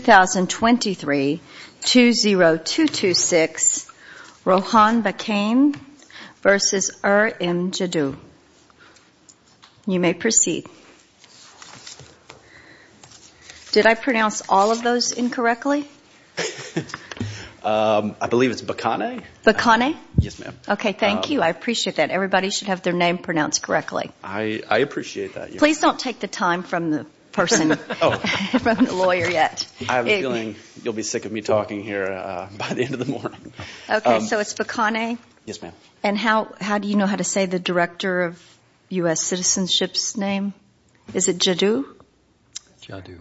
2023-20226 Rohan Bakane v. Er-Im Jaddou. You may proceed. Did I pronounce all of those incorrectly? I believe it's Bakane. Bakane? Yes, ma'am. Okay, thank you. I appreciate that. Everybody should have their name pronounced correctly. I appreciate that. Please don't take the time from the person, from the lawyer yet. I have a feeling you'll be sick of me talking here by the end of the morning. Okay, so it's Bakane? Yes, ma'am. And how do you know how to say the Director of U.S. Citizenship's name? Is it Jaddou? Jaddou.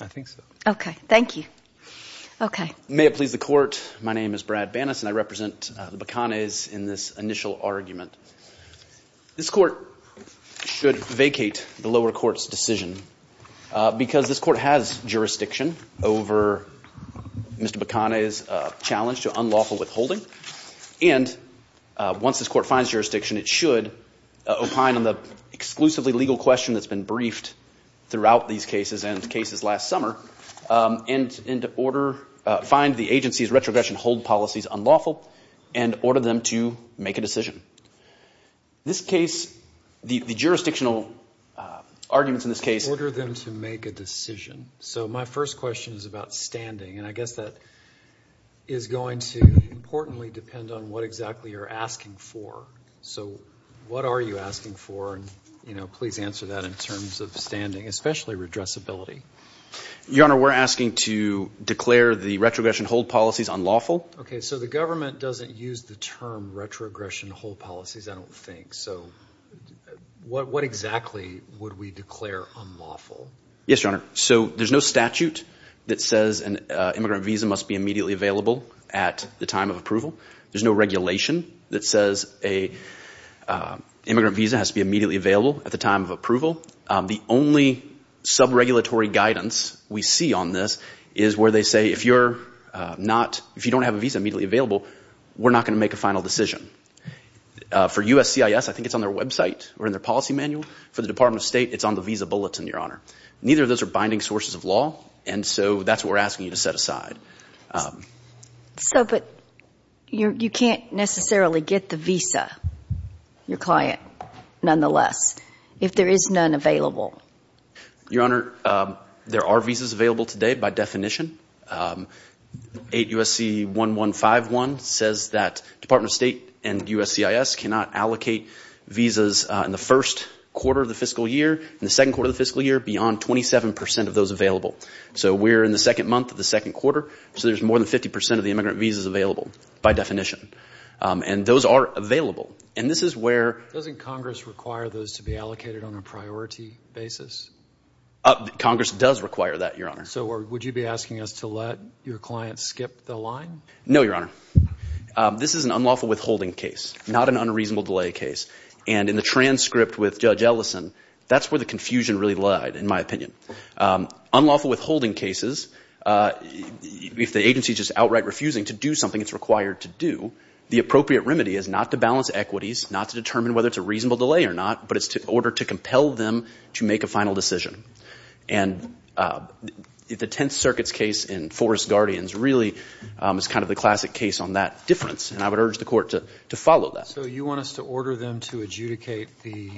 I think so. Okay, thank you. Okay. May it please the Court, my name is Brad Banas and I represent the Bakanes in this initial argument. This Court should vacate the lower court's decision because this Court has jurisdiction over Mr. Bakane's challenge to unlawful withholding. And once this Court finds jurisdiction, it should opine on the exclusively legal question that's been briefed throughout these cases and cases last summer and find the agency's retrogression hold policies unlawful and order them to make a decision. This case, the jurisdictional arguments in this case— Order them to make a decision. So my first question is about standing, and I guess that is going to importantly depend on what exactly you're asking for. So what are you asking for, and please answer that in terms of standing, especially redressability. Your Honor, we're asking to declare the retrogression hold policies unlawful. Okay, so the government doesn't use the term retrogression hold policies, I don't think. So what exactly would we declare unlawful? Yes, Your Honor. So there's no statute that says an immigrant visa must be immediately available at the time of approval. There's no regulation that says an immigrant visa has to be immediately available at the time of approval. The only sub-regulatory guidance we see on this is where they say if you don't have a visa immediately available, we're not going to make a final decision. For USCIS, I think it's on their website or in their policy manual. For the Department of State, it's on the visa bulletin, Your Honor. Neither of those are binding sources of law, and so that's what we're asking you to set aside. So, but you can't necessarily get the visa, your client, nonetheless, if there is none available. Your Honor, there are visas available today by definition. 8 U.S.C. 1151 says that Department of State and USCIS cannot allocate visas in the first quarter of the fiscal year, in the second quarter of the fiscal year, beyond 27 percent of those available. So we're in the second month of the second quarter, so there's more than 50 percent of the immigrant visas available by definition. And those are available. And this is where— Doesn't Congress require those to be allocated on a priority basis? Congress does require that, Your Honor. So would you be asking us to let your client skip the line? No, Your Honor. This is an unlawful withholding case, not an unreasonable delay case. And in the transcript with Judge Ellison, that's where the confusion really lied, in my opinion. Unlawful withholding cases, if the agency is just outright refusing to do something it's required to do, the appropriate remedy is not to balance equities, not to determine whether it's a reasonable delay or not, but it's in order to compel them to make a final decision. And the Tenth Circuit's case in Forest Guardians really is kind of the classic case on that difference, and I would urge the Court to follow that. So you want us to order them to adjudicate the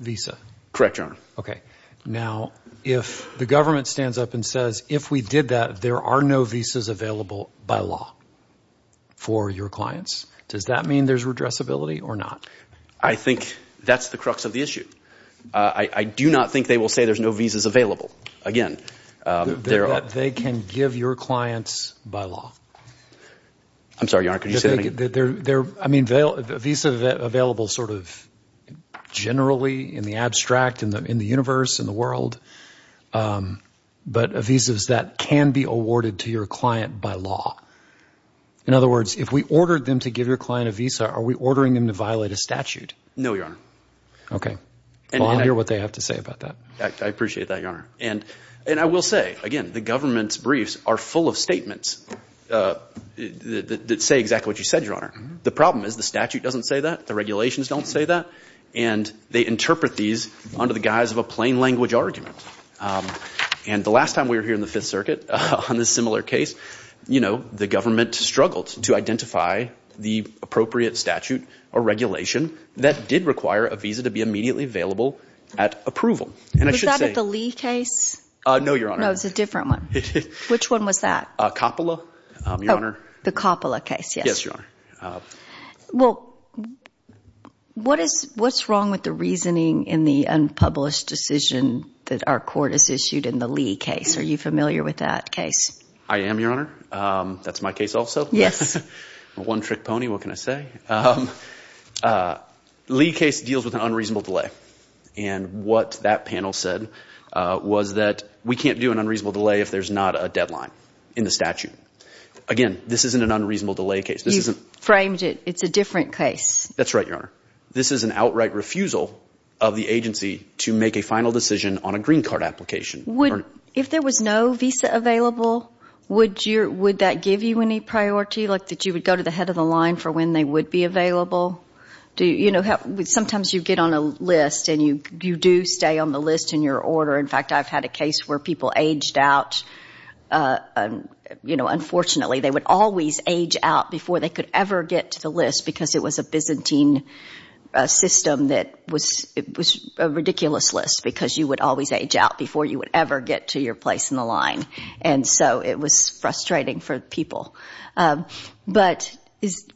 visa? Correct, Your Honor. Okay. Now, if the government stands up and says, if we did that, there are no visas available by law for your clients, does that mean there's redressability or not? I think that's the crux of the issue. I do not think they will say there's no visas available. Again, there are— That they can give your clients by law. I'm sorry, Your Honor, could you say that again? Visa available sort of generally, in the abstract, in the universe, in the world, but visas that can be awarded to your client by law. In other words, if we ordered them to give your client a visa, are we ordering them to violate a statute? No, Your Honor. Okay. Well, I hear what they have to say about that. I appreciate that, Your Honor. And I will say, again, the government's briefs are full of statements that say exactly what you said, Your Honor. The problem is the statute doesn't say that, the regulations don't say that, and they interpret these under the guise of a plain language argument. And the last time we were here in the Fifth Circuit on this similar case, you know, the government struggled to identify the appropriate statute or regulation that did require a visa to be immediately available at approval. Was that at the Lee case? No, Your Honor. No, it was a different one. Which one was that? Coppola, Your Honor. The Coppola case, yes. Yes, Your Honor. Well, what's wrong with the reasoning in the unpublished decision that our court has issued in the Lee case? Are you familiar with that case? I am, Your Honor. That's my case also. Yes. I'm a one-trick pony. What can I say? Lee case deals with an unreasonable delay, and what that panel said was that we can't do an unreasonable delay if there's not a deadline in the statute. Again, this isn't an unreasonable delay case. You framed it. It's a different case. That's right, Your Honor. This is an outright refusal of the agency to make a final decision on a green card application. If there was no visa available, would that give you any priority, like that you would go to the head of the line for when they would be available? Sometimes you get on a list, and you do stay on the list in your order. In fact, I've had a case where people aged out. Unfortunately, they would always age out before they could ever get to the list because it was a Byzantine system that was a ridiculous list because you would always age out before you would ever get to your place in the line. And so it was frustrating for people. But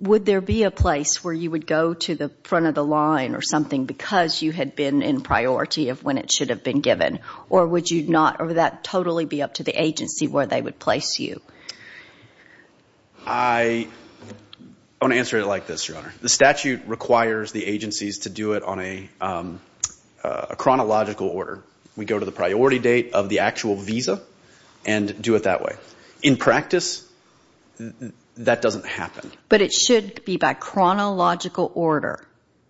would there be a place where you would go to the front of the line or something because you had been in priority of when it should have been given, or would that totally be up to the agency where they would place you? I want to answer it like this, Your Honor. The statute requires the agencies to do it on a chronological order. We go to the priority date of the actual visa and do it that way. In practice, that doesn't happen. But it should be by chronological order?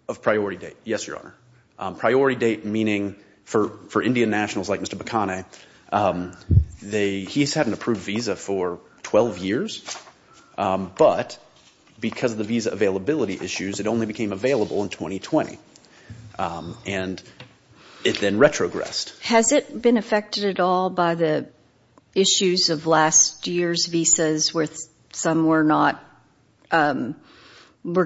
Of priority date, yes, Your Honor. Priority date meaning for Indian nationals like Mr. Bakane, he's had an approved visa for 12 years, but because of the visa availability issues, it only became available in 2020. And it then retrogressed. Has it been affected at all by the issues of last year's visas where some were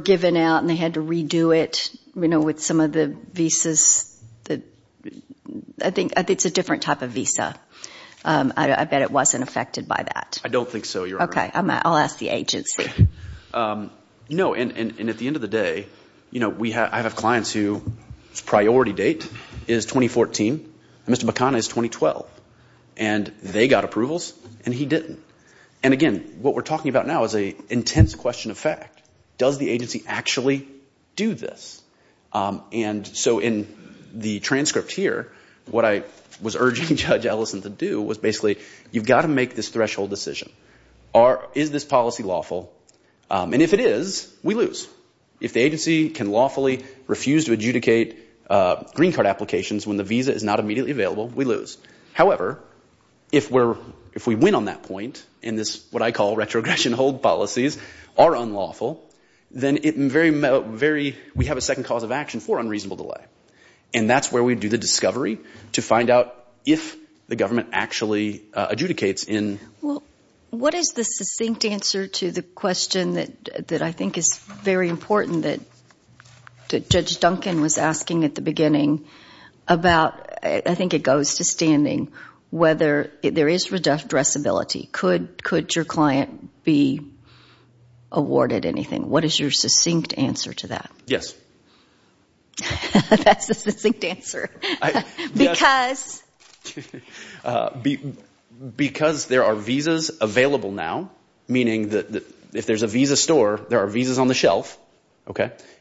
given out and they had to redo it with some of the visas? I think it's a different type of visa. I bet it wasn't affected by that. I don't think so, Your Honor. Okay, I'll ask the agency. No, and at the end of the day, I have clients whose priority date is 2014, and Mr. Bakane's is 2012, and they got approvals and he didn't. And again, what we're talking about now is an intense question of fact. Does the agency actually do this? And so in the transcript here, what I was urging Judge Ellison to do was basically, you've got to make this threshold decision. Is this policy lawful? And if it is, we lose. If the agency can lawfully refuse to adjudicate green card applications when the visa is not immediately available, we lose. However, if we win on that point, and this is what I call retrogression hold policies are unlawful, then we have a second cause of action for unreasonable delay. And that's where we do the discovery to find out if the government actually adjudicates What is the succinct answer to the question that I think is very important that Judge Duncan was asking at the beginning about, I think it goes to standing, whether there is redressability. Could your client be awarded anything? What is your succinct answer to that? Yes. That's the succinct answer. Because? Because there are visas available now, meaning that if there's a visa store, there are visas on the shelf,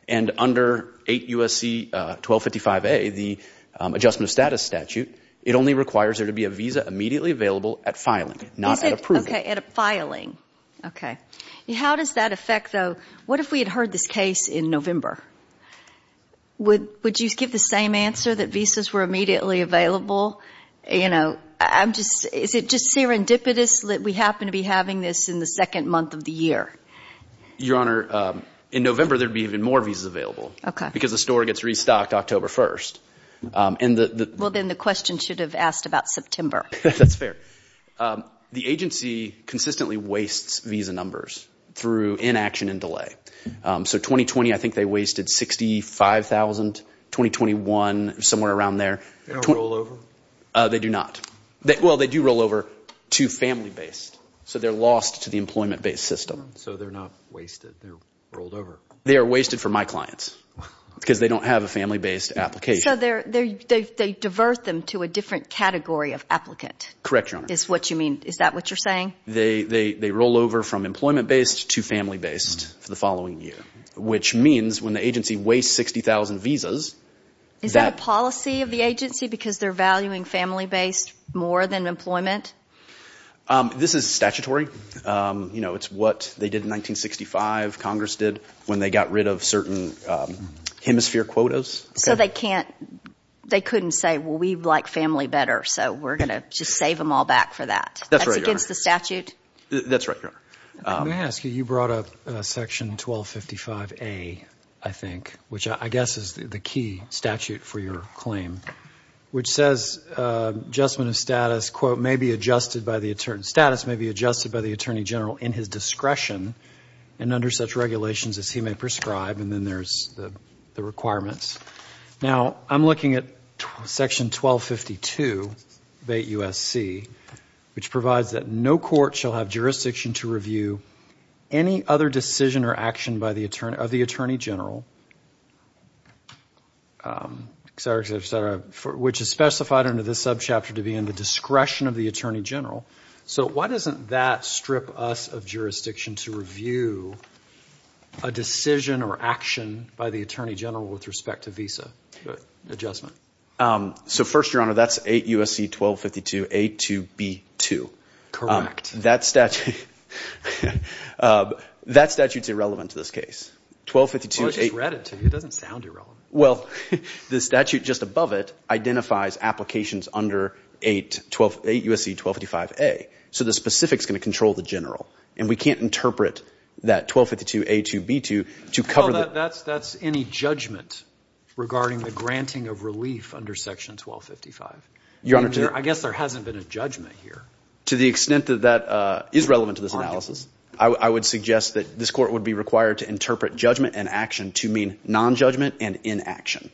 and under 8 U.S.C. 1255A, the adjustment of status statute, it only requires there to be a visa immediately available at filing, not at approving. Okay, at filing. Okay. How does that affect, though, what if we had heard this case in November? Would you give the same answer, that visas were immediately available? You know, is it just serendipitous that we happen to be having this in the second month of the year? Your Honor, in November there would be even more visas available. Okay. Because the store gets restocked October 1st. Well, then the question should have asked about September. That's fair. The agency consistently wastes visa numbers through inaction and delay. So 2020, I think they wasted $65,000. 2021, somewhere around there. They don't roll over? They do not. Well, they do roll over to family-based. So they're lost to the employment-based system. So they're not wasted. They're rolled over. They are wasted for my clients because they don't have a family-based application. So they divert them to a different category of applicant. Correct, Your Honor. Is that what you're saying? They roll over from employment-based to family-based for the following year, which means when the agency wastes 60,000 visas. Is that a policy of the agency because they're valuing family-based more than employment? This is statutory. You know, it's what they did in 1965, Congress did, when they got rid of certain hemisphere quotas. So they couldn't say, well, we like family better, so we're going to just save them all back for that. That's against the statute? That's right, Your Honor. Let me ask you, you brought up Section 1255A, I think, which I guess is the key statute for your claim, which says adjustment of status, quote, may be adjusted by the attorney general in his discretion and under such regulations as he may prescribe, and then there's the requirements. Now, I'm looking at Section 1252 of 8 U.S.C., which provides that no court shall have jurisdiction to review any other decision or action of the attorney general, which is specified under this subchapter to be in the discretion of the attorney general. So why doesn't that strip us of jurisdiction to review a decision or action by the attorney general with respect to visa adjustment? So first, Your Honor, that's 8 U.S.C. 1252A2B2. Correct. That statute's irrelevant to this case. Well, I just read it to you. It doesn't sound irrelevant. Well, the statute just above it identifies applications under 8 U.S.C. 1255A, so the specifics are going to control the general, and we can't interpret that 1252A2B2 to cover the ---- Well, that's any judgment regarding the granting of relief under Section 1255. Your Honor, to the ---- I guess there hasn't been a judgment here. To the extent that that is relevant to this analysis, I would suggest that this court would be required to interpret judgment and action to mean nonjudgment and inaction.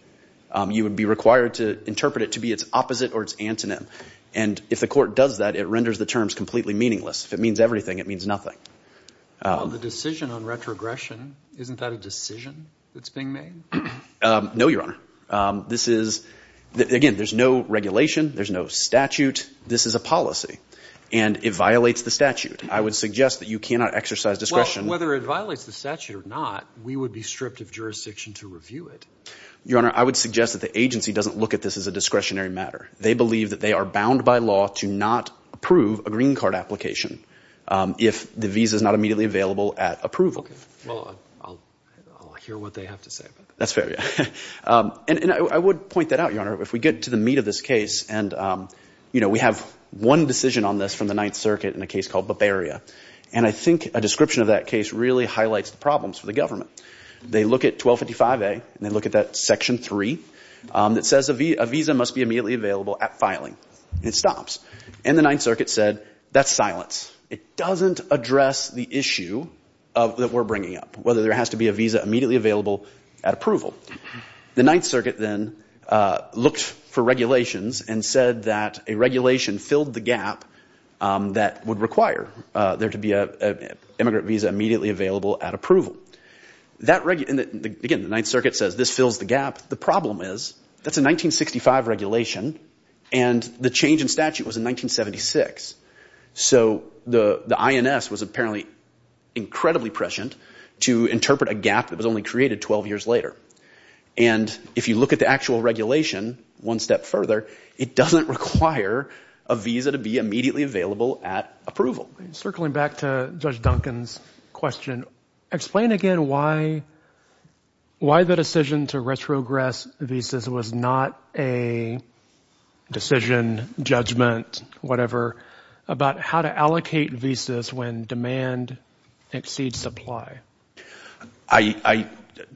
You would be required to interpret it to be its opposite or its antonym, and if the court does that, it renders the terms completely meaningless. If it means everything, it means nothing. Well, the decision on retrogression, isn't that a decision that's being made? No, Your Honor. This is ---- Again, there's no regulation. There's no statute. This is a policy, and it violates the statute. I would suggest that you cannot exercise discretion. Well, whether it violates the statute or not, we would be stripped of jurisdiction to review it. Your Honor, I would suggest that the agency doesn't look at this as a discretionary matter. They believe that they are bound by law to not approve a green card application if the visa is not immediately available at approval. Well, I'll hear what they have to say about that. That's fair, yeah. And I would point that out, Your Honor. If we get to the meat of this case, and, you know, we have one decision on this from the Ninth Circuit in a case called Bavaria, and I think a description of that case really highlights the problems for the government. They look at 1255A, and they look at that Section 3 that says a visa must be immediately available at filing. It stops. And the Ninth Circuit said, that's silence. It doesn't address the issue that we're bringing up, whether there has to be a visa immediately available at approval. The Ninth Circuit then looked for regulations and said that a regulation filled the gap that would require there to be an immigrant visa immediately available at approval. Again, the Ninth Circuit says this fills the gap. The problem is that's a 1965 regulation, and the change in statute was in 1976. So the INS was apparently incredibly prescient to interpret a gap that was only created 12 years later. And if you look at the actual regulation one step further, it doesn't require a visa to be immediately available at approval. Circling back to Judge Duncan's question, explain again why the decision to retrogress visas was not a decision, judgment, whatever, about how to allocate visas when demand exceeds supply.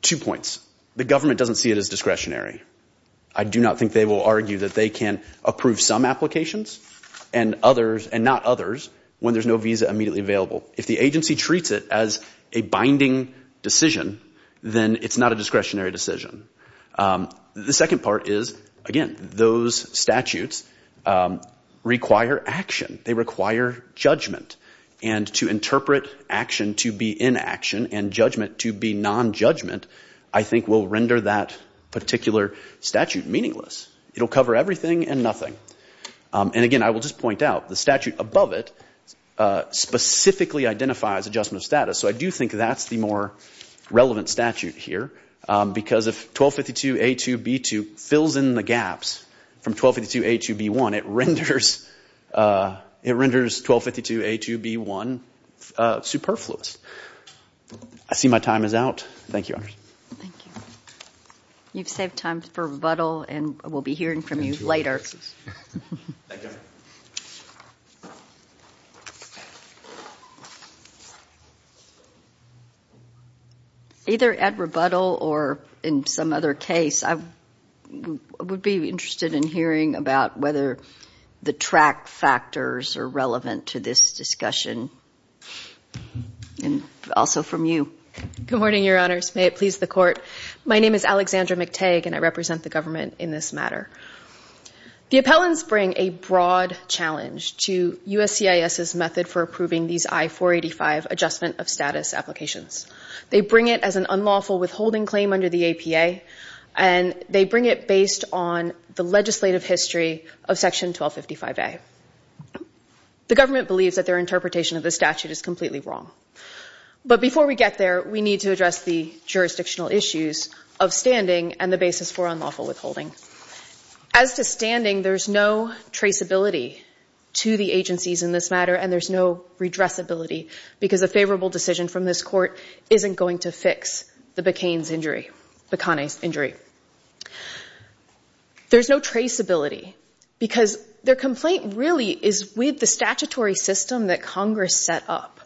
Two points. The government doesn't see it as discretionary. I do not think they will argue that they can approve some applications and not others when there's no visa immediately available. If the agency treats it as a binding decision, then it's not a discretionary decision. The second part is, again, those statutes require action. They require judgment. And to interpret action to be inaction and judgment to be nonjudgment, I think, will render that particular statute meaningless. It will cover everything and nothing. And again, I will just point out, the statute above it specifically identifies adjustment of status. So I do think that's the more relevant statute here, because if 1252A2B2 fills in the gaps from 1252A2B1, it renders 1252A2B1 superfluous. I see my time is out. Thank you, Your Honor. Thank you. You've saved time for rebuttal, and we'll be hearing from you later. Thank you. Either at rebuttal or in some other case, I would be interested in hearing about whether the track factors are relevant to this discussion. And also from you. Good morning, Your Honors. May it please the Court. My name is Alexandra McTague, and I represent the government in this matter. The appellants bring a broad challenge to USCIS's method for approving these I-485 adjustment of status applications. They bring it as an unlawful withholding claim under the APA, and they bring it based on the legislative history of Section 1255A. The government believes that their interpretation of the statute is completely wrong. But before we get there, we need to address the jurisdictional issues of standing and the basis for unlawful withholding. As to standing, there's no traceability to the agencies in this matter, and there's no redressability, because a favorable decision from this Court isn't going to fix the Bacanes injury. There's no traceability, because their complaint really is with the statutory system that Congress set up.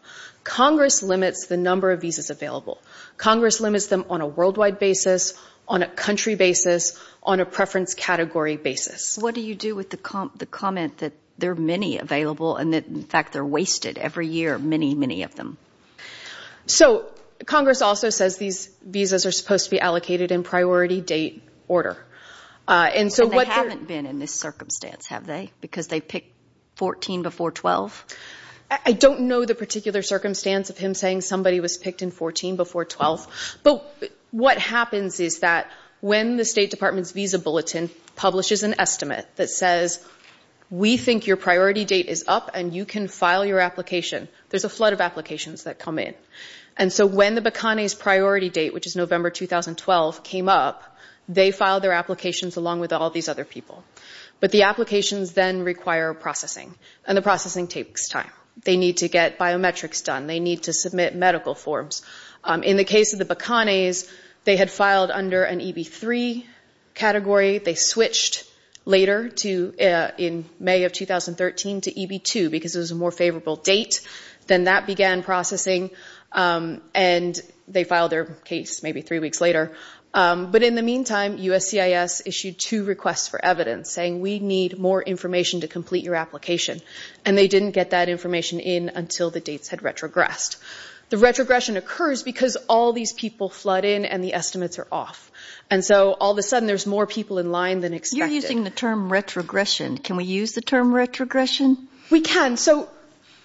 Congress limits the number of visas available. Congress limits them on a worldwide basis, on a country basis, on a preference category basis. What do you do with the comment that there are many available and that, in fact, they're wasted every year, many, many of them? So Congress also says these visas are supposed to be allocated in priority date order. And they haven't been in this circumstance, have they? Because they pick 14 before 12? I don't know the particular circumstance of him saying somebody was picked in 14 before 12. But what happens is that when the State Department's Visa Bulletin publishes an estimate that says, we think your priority date is up and you can file your application, there's a flood of applications that come in. And so when the Bacanes priority date, which is November 2012, came up, they filed their applications along with all these other people. But the applications then require processing, and the processing takes time. They need to get biometrics done. They need to submit medical forms. In the case of the Bacanes, they had filed under an EB3 category. They switched later in May of 2013 to EB2 because it was a more favorable date. Then that began processing, and they filed their case maybe three weeks later. But in the meantime, USCIS issued two requests for evidence saying, we need more information to complete your application. And they didn't get that information in until the dates had retrogressed. The retrogression occurs because all these people flood in and the estimates are off. And so all of a sudden there's more people in line than expected. You're using the term retrogression. Can we use the term retrogression? We can. So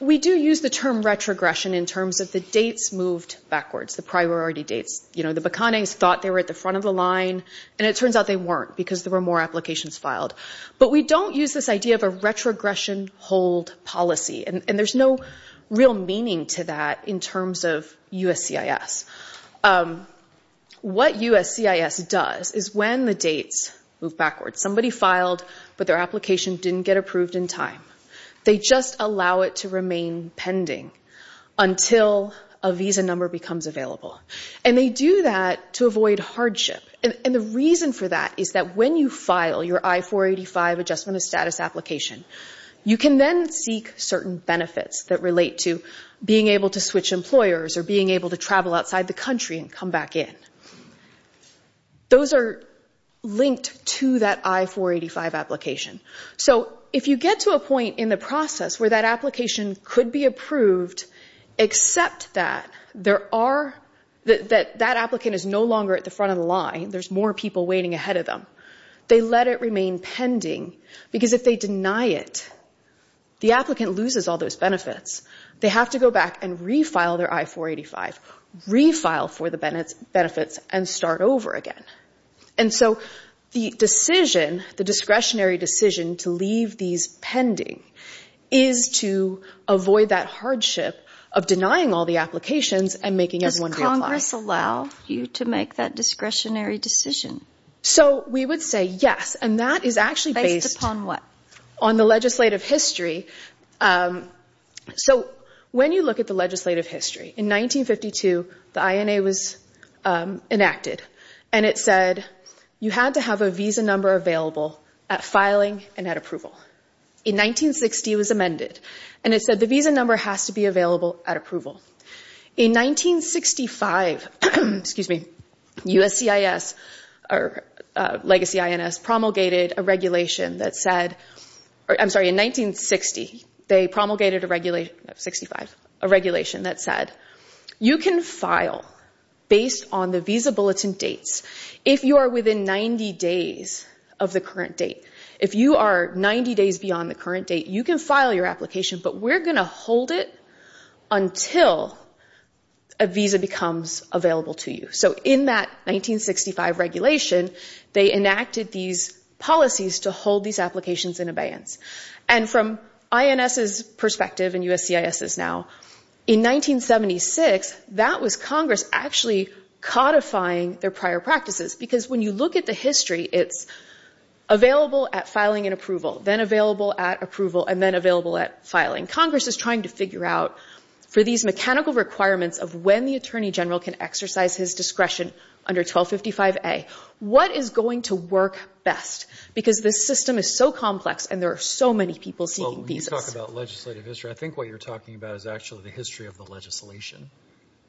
we do use the term retrogression in terms of the dates moved backwards, the priority dates. The Bacanes thought they were at the front of the line, and it turns out they weren't because there were more applications filed. But we don't use this idea of a retrogression hold policy, and there's no real meaning to that in terms of USCIS. What USCIS does is when the dates move backwards, somebody filed but their application didn't get approved in time, they just allow it to remain pending until a visa number becomes available. And they do that to avoid hardship. And the reason for that is that when you file your I-485 adjustment of status application, you can then seek certain benefits that relate to being able to switch employers or being able to travel outside the country and come back in. Those are linked to that I-485 application. So if you get to a point in the process where that application could be approved, except that that applicant is no longer at the front of the line, there's more people waiting ahead of them, they let it remain pending. Because if they deny it, the applicant loses all those benefits. They have to go back and refile their I-485, refile for the benefits, and start over again. And so the discretionary decision to leave these pending is to avoid that hardship of denying all the applications and making everyone reapply. Does Congress allow you to make that discretionary decision? So we would say yes, and that is actually based on the legislative history. So when you look at the legislative history, in 1952, the INA was enacted, and it said you had to have a visa number available at filing and at approval. In 1960, it was amended, and it said the visa number has to be available at approval. In 1965, USCIS, or legacy INS, promulgated a regulation that said, I'm sorry, in 1960, they promulgated a regulation that said, you can file based on the visa bulletin dates if you are within 90 days of the current date. If you are 90 days beyond the current date, you can file your application, but we're going to hold it until a visa becomes available to you. So in that 1965 regulation, they enacted these policies to hold these applications in abeyance. And from INS's perspective, and USCIS's now, in 1976, that was Congress actually codifying their prior practices, because when you look at the history, it's available at filing and approval, then available at approval, and then available at filing. Congress is trying to figure out, for these mechanical requirements of when the attorney general can exercise his discretion under 1255A, what is going to work best, because this system is so complex, and there are so many people seeking visas. Well, when you talk about legislative history, I think what you're talking about is actually the history of the legislation,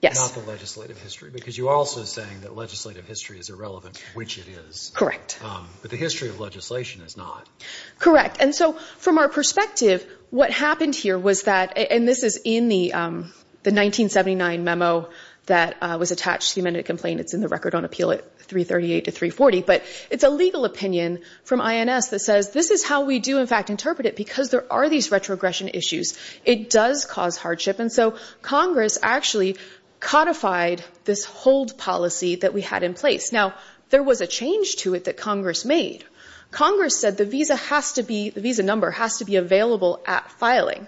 not the legislative history, because you're also saying that legislative history is irrelevant, which it is. Correct. But the history of legislation is not. Correct, and so from our perspective, what happened here was that, and this is in the 1979 memo that was attached to the amended complaint, it's in the Record on Appeal at 338 to 340, but it's a legal opinion from INS that says, this is how we do, in fact, interpret it, because there are these retrogression issues. It does cause hardship, and so Congress actually codified this hold policy that we had in place. Now, there was a change to it that Congress made. Congress said the visa has to be, the visa number has to be available at filing.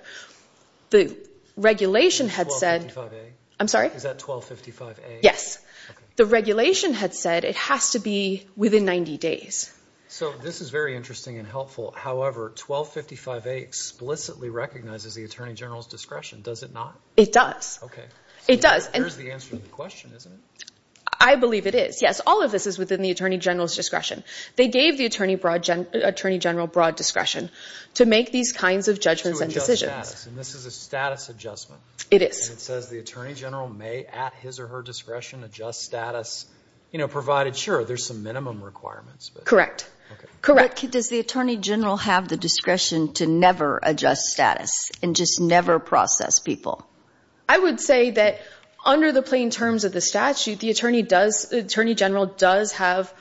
The regulation had said. 1255A? I'm sorry? Is that 1255A? Yes. Okay. The regulation had said it has to be within 90 days. So this is very interesting and helpful. However, 1255A explicitly recognizes the Attorney General's discretion. Does it not? It does. Okay. It does. And here's the answer to the question, isn't it? I believe it is. Yes, all of this is within the Attorney General's discretion. They gave the Attorney General broad discretion to make these kinds of judgments and decisions. To adjust status, and this is a status adjustment. It is. And it says the Attorney General may, at his or her discretion, adjust status, provided, sure, there's some minimum requirements. Correct. Okay. Correct. Does the Attorney General have the discretion to never adjust status and just never process people? I would say that under the plain terms of the statute, the Attorney General does have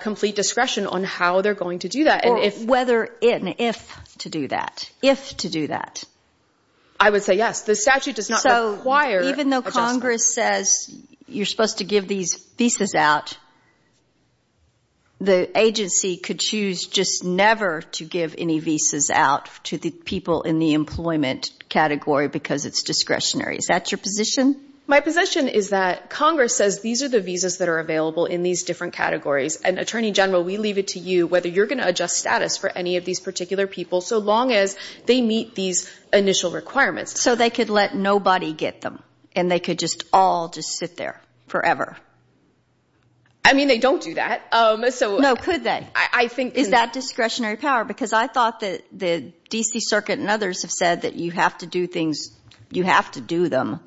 complete discretion on how they're going to do that. Or whether and if to do that. If to do that. I would say yes. The statute does not require adjustment. Congress says you're supposed to give these visas out. The agency could choose just never to give any visas out to the people in the employment category because it's discretionary. Is that your position? My position is that Congress says these are the visas that are available in these different categories, and, Attorney General, we leave it to you whether you're going to adjust status for any of these particular people, so long as they meet these initial requirements. So they could let nobody get them, and they could just all just sit there forever? I mean, they don't do that. No, could they? Is that discretionary power? Because I thought that the D.C. Circuit and others have said that you have to do things, you have to do them,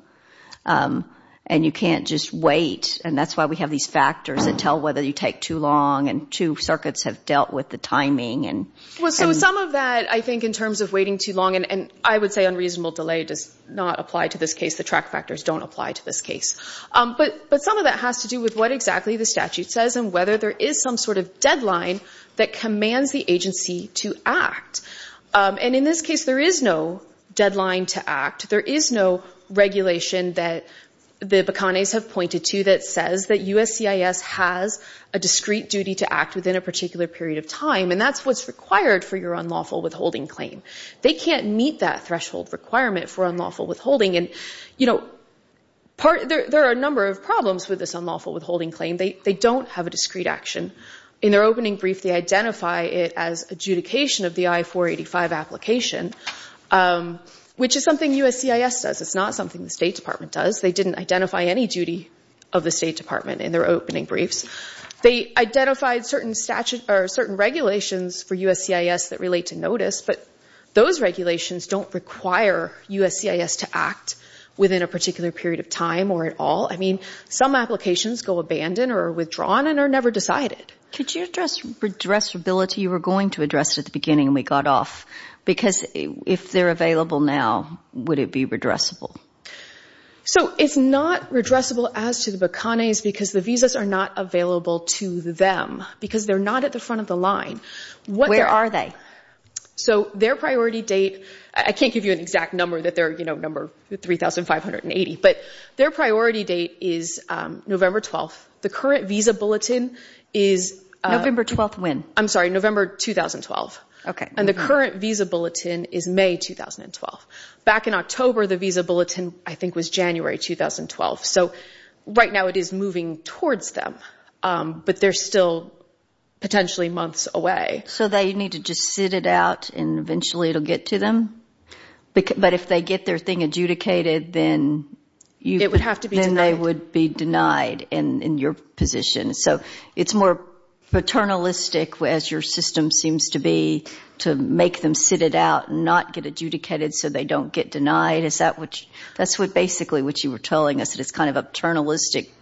and you can't just wait. And that's why we have these factors that tell whether you take too long, and two circuits have dealt with the timing. Well, so some of that, I think, in terms of waiting too long, and I would say unreasonable delay does not apply to this case. The track factors don't apply to this case. But some of that has to do with what exactly the statute says and whether there is some sort of deadline that commands the agency to act. And in this case, there is no deadline to act. There is no regulation that the Bacanes have pointed to that says that USCIS has a discrete duty to act within a particular period of time, and that's what's required for your unlawful withholding claim. They can't meet that threshold requirement for unlawful withholding. And, you know, there are a number of problems with this unlawful withholding claim. They don't have a discrete action. In their opening brief, they identify it as adjudication of the I-485 application, which is something USCIS does. It's not something the State Department does. They didn't identify any duty of the State Department in their opening briefs. They identified certain regulations for USCIS that relate to notice, but those regulations don't require USCIS to act within a particular period of time or at all. I mean, some applications go abandoned or are withdrawn and are never decided. Could you address redressability? You were going to address it at the beginning, and we got off. Because if they're available now, would it be redressable? So it's not redressable as to the Bacanes because the visas are not available to them because they're not at the front of the line. Where are they? So their priority date, I can't give you an exact number that they're, you know, number 3,580, but their priority date is November 12th. The current visa bulletin is – November 12th when? I'm sorry, November 2012. Okay. And the current visa bulletin is May 2012. Back in October, the visa bulletin, I think, was January 2012. So right now it is moving towards them, but they're still potentially months away. So they need to just sit it out, and eventually it will get to them? But if they get their thing adjudicated, then you – It would have to be denied. Then they would be denied in your position. So it's more paternalistic, as your system seems to be, to make them sit it out and not get adjudicated so they don't get denied. Is that what you – That's basically what you were telling us, that it's kind of a paternalistic rule.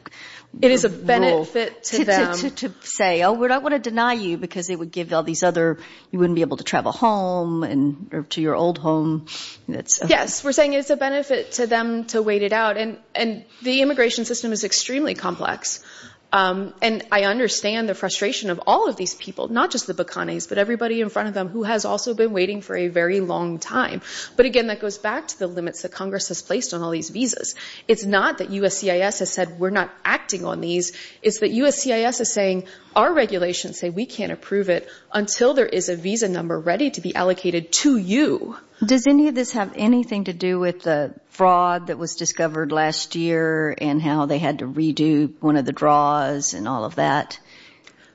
It is a benefit to them. To say, oh, we don't want to deny you because it would give all these other – you wouldn't be able to travel home or to your old home. Yes, we're saying it's a benefit to them to wait it out. And the immigration system is extremely complex. And I understand the frustration of all of these people, not just the Bacanes, but everybody in front of them who has also been waiting for a very long time. But, again, that goes back to the limits that Congress has placed on all these visas. It's not that USCIS has said we're not acting on these. It's that USCIS is saying our regulations say we can't approve it until there is a visa number ready to be allocated to you. Does any of this have anything to do with the fraud that was discovered last year and how they had to redo one of the draws and all of that?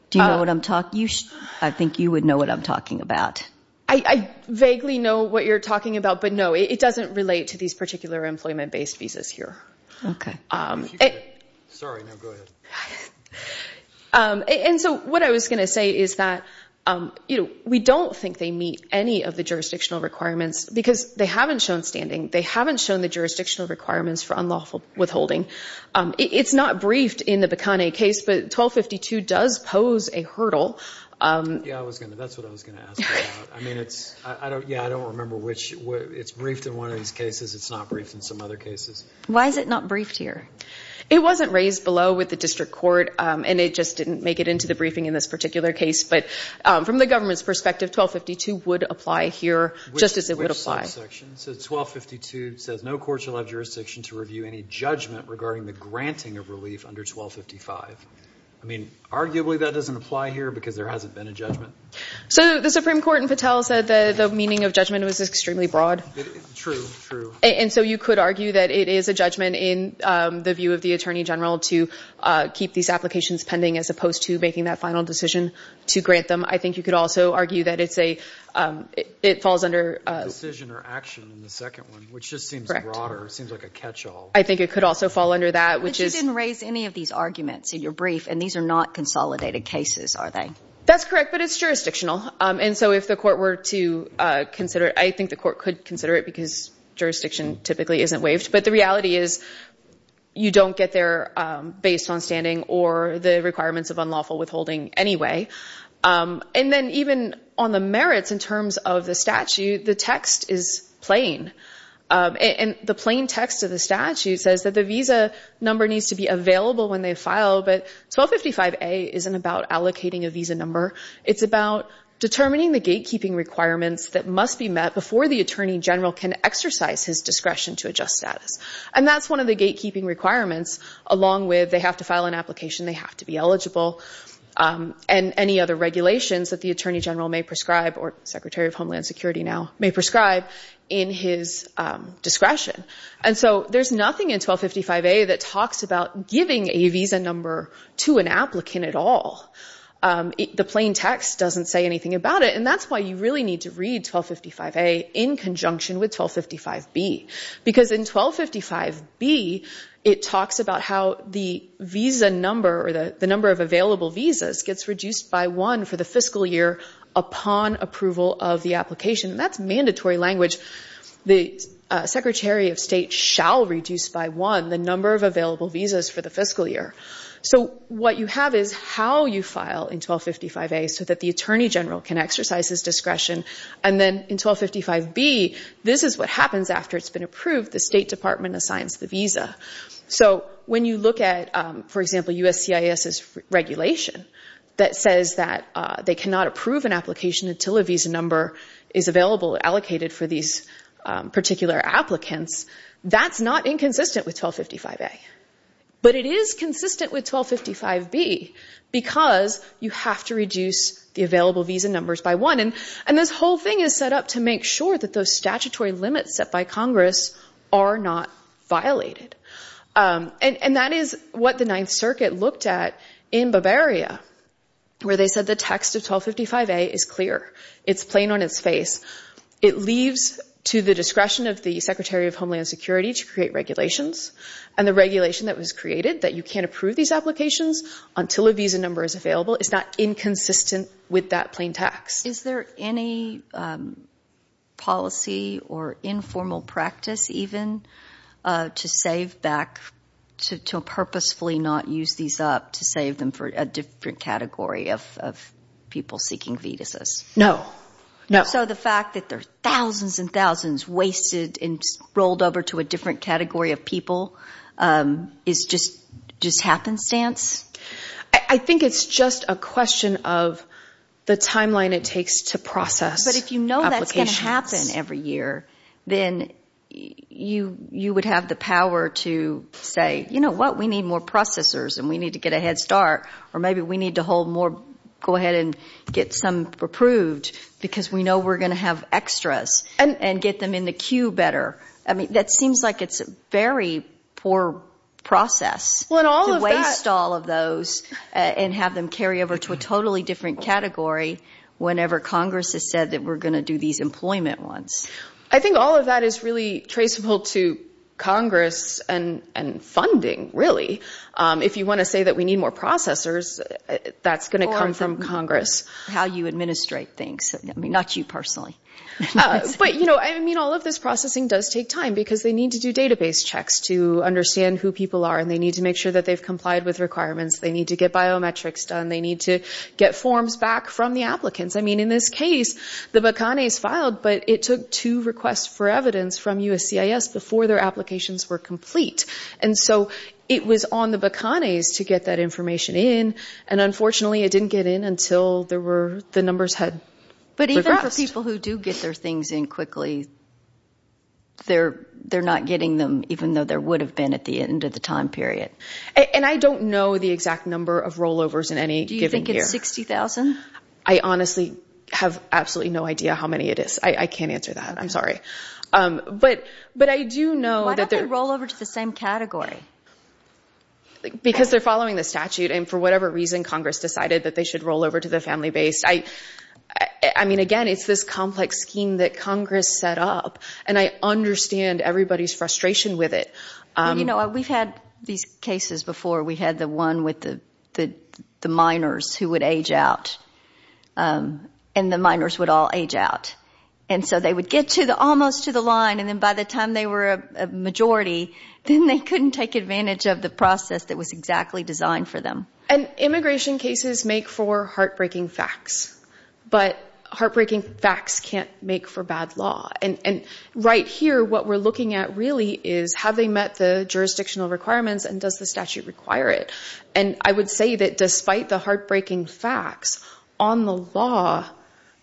Do you know what I'm talking – I think you would know what I'm talking about. I vaguely know what you're talking about. But, no, it doesn't relate to these particular employment-based visas here. Okay. Sorry, no, go ahead. And so what I was going to say is that we don't think they meet any of the jurisdictional requirements because they haven't shown standing. They haven't shown the jurisdictional requirements for unlawful withholding. It's not briefed in the Bikani case, but 1252 does pose a hurdle. Yeah, that's what I was going to ask about. Yeah, I don't remember which – it's briefed in one of these cases. It's not briefed in some other cases. Why is it not briefed here? It wasn't raised below with the district court, and it just didn't make it into the briefing in this particular case. But from the government's perspective, 1252 would apply here just as it would apply. Which subsection? So 1252 says no court shall have jurisdiction to review any judgment regarding the granting of relief under 1255. I mean, arguably that doesn't apply here because there hasn't been a judgment. So the Supreme Court in Patel said the meaning of judgment was extremely broad. True, true. And so you could argue that it is a judgment in the view of the attorney general to keep these applications pending as opposed to making that final decision to grant them. I think you could also argue that it's a – it falls under – Correct. I think it could also fall under that, which is – But you didn't raise any of these arguments in your brief, and these are not consolidated cases, are they? That's correct, but it's jurisdictional. And so if the court were to consider it, I think the court could consider it because jurisdiction typically isn't waived. But the reality is you don't get there based on standing or the requirements of unlawful withholding anyway. And then even on the merits in terms of the statute, the text is plain. And the plain text of the statute says that the visa number needs to be available when they file, but 1255A isn't about allocating a visa number. It's about determining the gatekeeping requirements that must be met before the attorney general can exercise his discretion to adjust status. And that's one of the gatekeeping requirements, along with they have to file an application, they have to be eligible. And any other regulations that the attorney general may prescribe or Secretary of Homeland Security now may prescribe in his discretion. And so there's nothing in 1255A that talks about giving a visa number to an applicant at all. The plain text doesn't say anything about it, and that's why you really need to read 1255A in conjunction with 1255B. Because in 1255B, it talks about how the visa number or the number of available visas gets reduced by one for the fiscal year upon approval of the application. And that's mandatory language. The Secretary of State shall reduce by one the number of available visas for the fiscal year. So what you have is how you file in 1255A so that the attorney general can exercise his discretion. And then in 1255B, this is what happens after it's been approved. The State Department assigns the visa. So when you look at, for example, USCIS's regulation that says that they cannot approve an application until a visa number is available or allocated for these particular applicants, that's not inconsistent with 1255A. But it is consistent with 1255B because you have to reduce the available visa numbers by one. And this whole thing is set up to make sure that those statutory limits set by Congress are not violated. And that is what the Ninth Circuit looked at in Bavaria, where they said the text of 1255A is clear. It's plain on its face. It leaves to the discretion of the Secretary of Homeland Security to create regulations. And the regulation that was created, that you can't approve these applications until a visa number is available, is not inconsistent with that plain text. Is there any policy or informal practice even to save back, to purposefully not use these up to save them for a different category of people seeking visas? No. So the fact that there are thousands and thousands wasted and rolled over to a different category of people is just happenstance? I think it's just a question of the timeline it takes to process applications. But if you know that's going to happen every year, then you would have the power to say, you know what, we need more processors and we need to get a head start. Or maybe we need to go ahead and get some approved because we know we're going to have extras and get them in the queue better. That seems like it's a very poor process to waste all of those and have them carry over to a totally different category whenever Congress has said that we're going to do these employment ones. I think all of that is really traceable to Congress and funding, really. If you want to say that we need more processors, that's going to come from Congress. Or from how you administrate things. Not you personally. But all of this processing does take time because they need to do database checks to understand who people are and they need to make sure that they've complied with requirements. They need to get biometrics done. They need to get forms back from the applicants. In this case, the BACANES filed, but it took two requests for evidence from USCIS before their applications were complete. So it was on the BACANES to get that information in, and unfortunately it didn't get in until the numbers had progressed. But even for people who do get their things in quickly, they're not getting them, even though there would have been at the end of the time period. And I don't know the exact number of rollovers in any given year. Do you think it's 60,000? I honestly have absolutely no idea how many it is. I can't answer that. I'm sorry. But I do know that they're... Why don't they roll over to the same category? Because they're following the statute, and for whatever reason, Congress decided that they should roll over to the family-based. I mean, again, it's this complex scheme that Congress set up, and I understand everybody's frustration with it. You know, we've had these cases before. We had the one with the minors who would age out, and the minors would all age out. And so they would get almost to the line, and then by the time they were a majority, then they couldn't take advantage of the process that was exactly designed for them. And immigration cases make for heartbreaking facts, but heartbreaking facts can't make for bad law. And right here, what we're looking at really is have they met the jurisdictional requirements and does the statute require it? And I would say that despite the heartbreaking facts, on the law,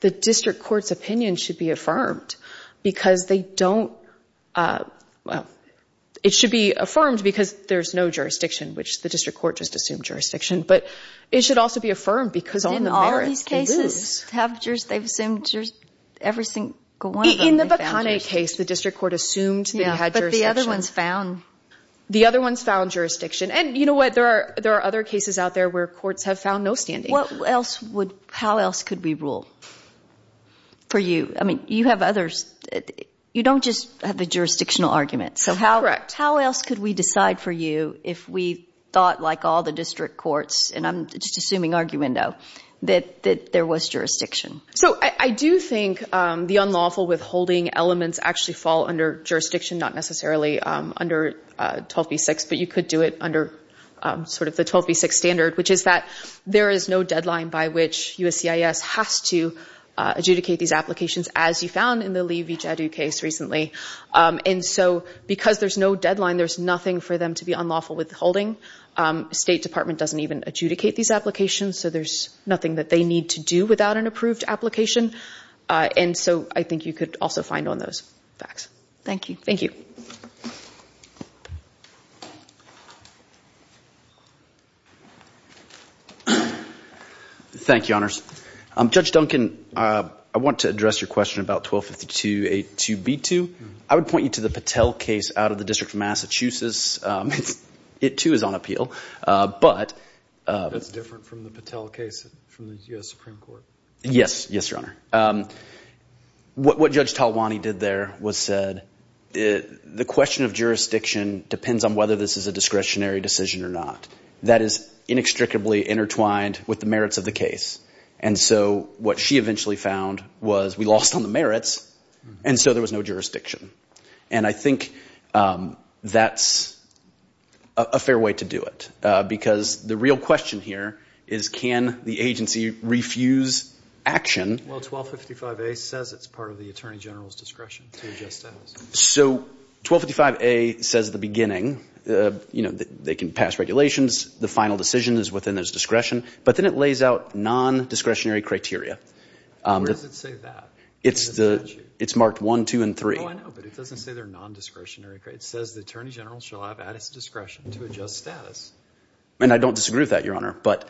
the district court's opinion should be affirmed because they don't... Well, it should be affirmed because there's no jurisdiction, which the district court just assumed jurisdiction, but it should also be affirmed because on the merits, they lose. In all of these cases, they've assumed every single one of them. In the Bakane case, the district court assumed that he had jurisdiction. Yeah, but the other one's found. The other one's found jurisdiction. And you know what, there are other cases out there where courts have found no standing. How else could we rule for you? I mean, you have others. You don't just have the jurisdictional argument. Correct. So how else could we decide for you if we thought, like all the district courts, and I'm just assuming argumento, that there was jurisdiction? So I do think the unlawful withholding elements actually fall under jurisdiction, not necessarily under 12b-6, but you could do it under sort of the 12b-6 standard, which is that there is no deadline by which USCIS has to adjudicate these applications, as you found in the Lee v. Jadu case recently. And so because there's no deadline, there's nothing for them to be unlawful withholding. State Department doesn't even adjudicate these applications, so there's nothing that they need to do without an approved application. And so I think you could also find on those facts. Thank you. Thank you. Thank you, Honors. Judge Duncan, I want to address your question about 1252-82b-2. I would point you to the Patel case out of the District of Massachusetts. It, too, is on appeal. That's different from the Patel case from the U.S. Supreme Court. Yes. Yes, Your Honor. What Judge Talwani did there was said, the question of jurisdiction depends on whether this is a discretionary decision or not. That is inextricably intertwined with the merits of the case. And so what she eventually found was, we lost on the merits, and so there was no jurisdiction. And I think that's a fair way to do it because the real question here is, can the agency refuse action? Well, 1255-A says it's part of the Attorney General's discretion to adjust that. So 1255-A says at the beginning, you know, they can pass regulations. The final decision is within their discretion. But then it lays out non-discretionary criteria. Where does it say that? It's marked 1, 2, and 3. Oh, I know, but it doesn't say they're non-discretionary. It says the Attorney General shall have at his discretion to adjust status. And I don't disagree with that, Your Honor, but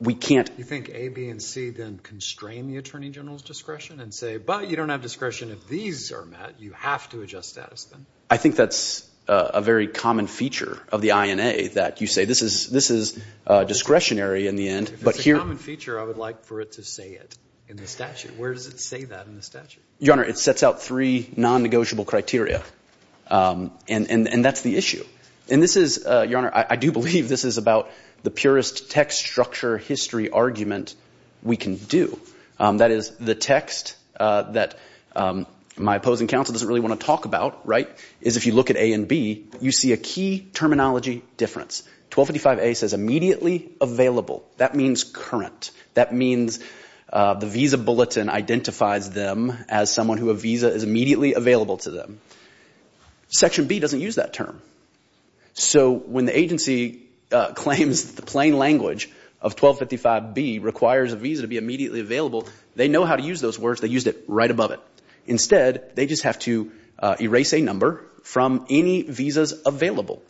we can't... You think A, B, and C then constrain the Attorney General's discretion and say, but you don't have discretion if these are met. You have to adjust status, then. I think that's a very common feature of the INA, that you say this is discretionary in the end, but here... If it's a common feature, I would like for it to say it in the statute. Where does it say that in the statute? Your Honor, it sets out three non-negotiable criteria, and that's the issue. And this is, Your Honor, I do believe this is about the purest text, structure, history argument we can do. That is, the text that my opposing counsel doesn't really want to talk about, right, is if you look at A and B, you see a key terminology difference. 1255A says immediately available. That means current. That means the visa bulletin identifies them as someone who a visa is immediately available to them. Section B doesn't use that term. So when the agency claims the plain language of 1255B requires a visa to be immediately available, they know how to use those words. They used it right above it. Instead, they just have to erase a number from any visas available.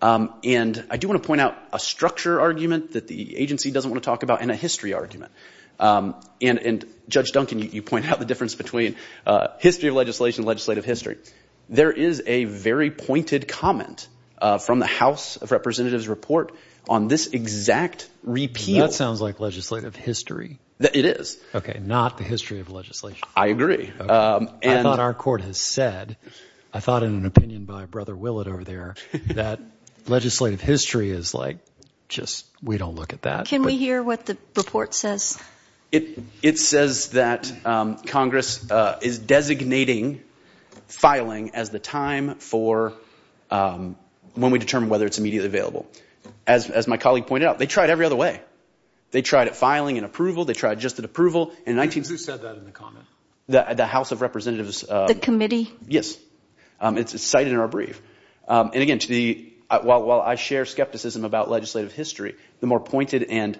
And I do want to point out a structure argument that the agency doesn't want to talk about and a history argument. And, Judge Duncan, you point out the difference between history of legislation and legislative history. There is a very pointed comment from the House of Representatives report on this exact repeal. That sounds like legislative history. It is. Okay, not the history of legislation. I agree. I thought our court has said, I thought in an opinion by Brother Willett over there, that legislative history is like, just, we don't look at that. Can we hear what the report says? It says that Congress is designating filing as the time for when we determine whether it's immediately available. As my colleague pointed out, they tried every other way. They tried at filing and approval. They tried just at approval. Who said that in the comment? The House of Representatives. The committee? Yes. It's cited in our brief. And, again, while I share skepticism about legislative history, the more pointed and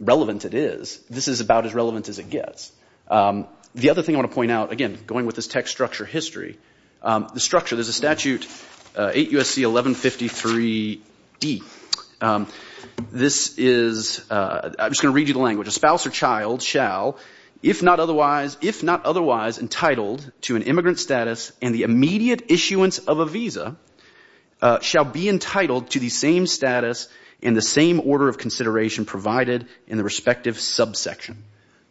relevant it is, this is about as relevant as it gets. The other thing I want to point out, again, going with this text structure history, the structure, there's a statute, 8 U.S.C. 1153D. This is, I'm just going to read you the language. A spouse or child shall if not otherwise entitled to an immigrant status and the immediate issuance of a visa shall be entitled to the same status and the same order of consideration provided in the respective subsection.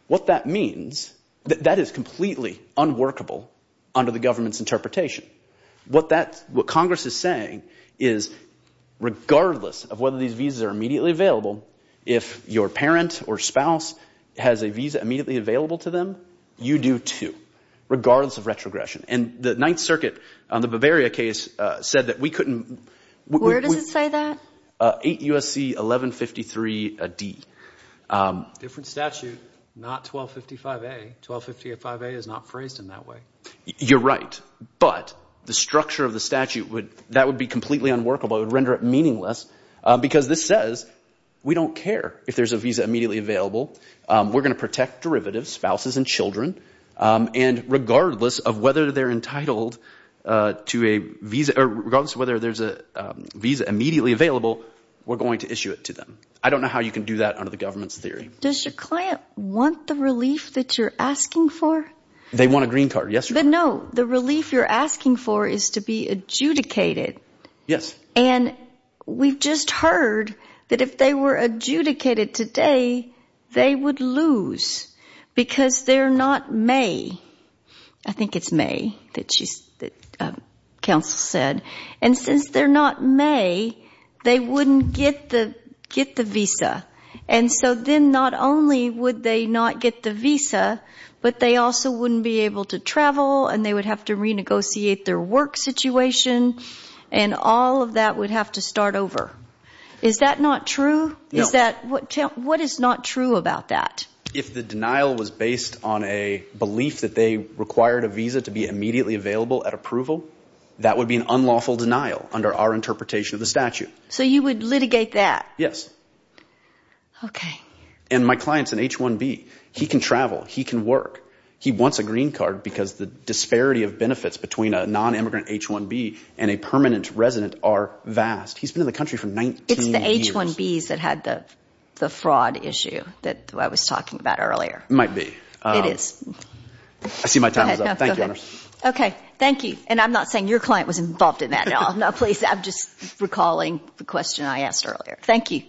What that means, that is completely unworkable under the government's interpretation. What Congress is saying is regardless of whether these visas are immediately available, if your parent or spouse has a visa immediately available to them, you do too, regardless of retrogression. And the Ninth Circuit on the Bavaria case said that we couldn't. Where does it say that? 8 U.S.C. 1153D. Different statute, not 1255A. 1255A is not phrased in that way. You're right. But the structure of the statute, that would be completely unworkable. It would render it meaningless because this says we don't care if there's a visa immediately available. We're going to protect derivatives, spouses and children. And regardless of whether they're entitled to a visa – or regardless of whether there's a visa immediately available, we're going to issue it to them. I don't know how you can do that under the government's theory. Does your client want the relief that you're asking for? They want a green card, yes. But no, the relief you're asking for is to be adjudicated. Yes. And we've just heard that if they were adjudicated today, they would lose because they're not may. I think it's may that counsel said. And since they're not may, they wouldn't get the visa. And so then not only would they not get the visa, but they also wouldn't be able to travel and they would have to renegotiate their work situation. And all of that would have to start over. Is that not true? No. What is not true about that? If the denial was based on a belief that they required a visa to be immediately available at approval, that would be an unlawful denial under our interpretation of the statute. So you would litigate that? Yes. Okay. And my client's an H-1B. He can travel. He can work. He wants a green card because the disparity of benefits between a non-immigrant H-1B and a permanent resident are vast. He's been in the country for 19 years. It's the H-1Bs that had the fraud issue that I was talking about earlier. It might be. It is. I see my time is up. Thank you. Okay. Thank you. And I'm not saying your client was involved in that at all. Please, I'm just recalling the question I asked earlier. Thank you.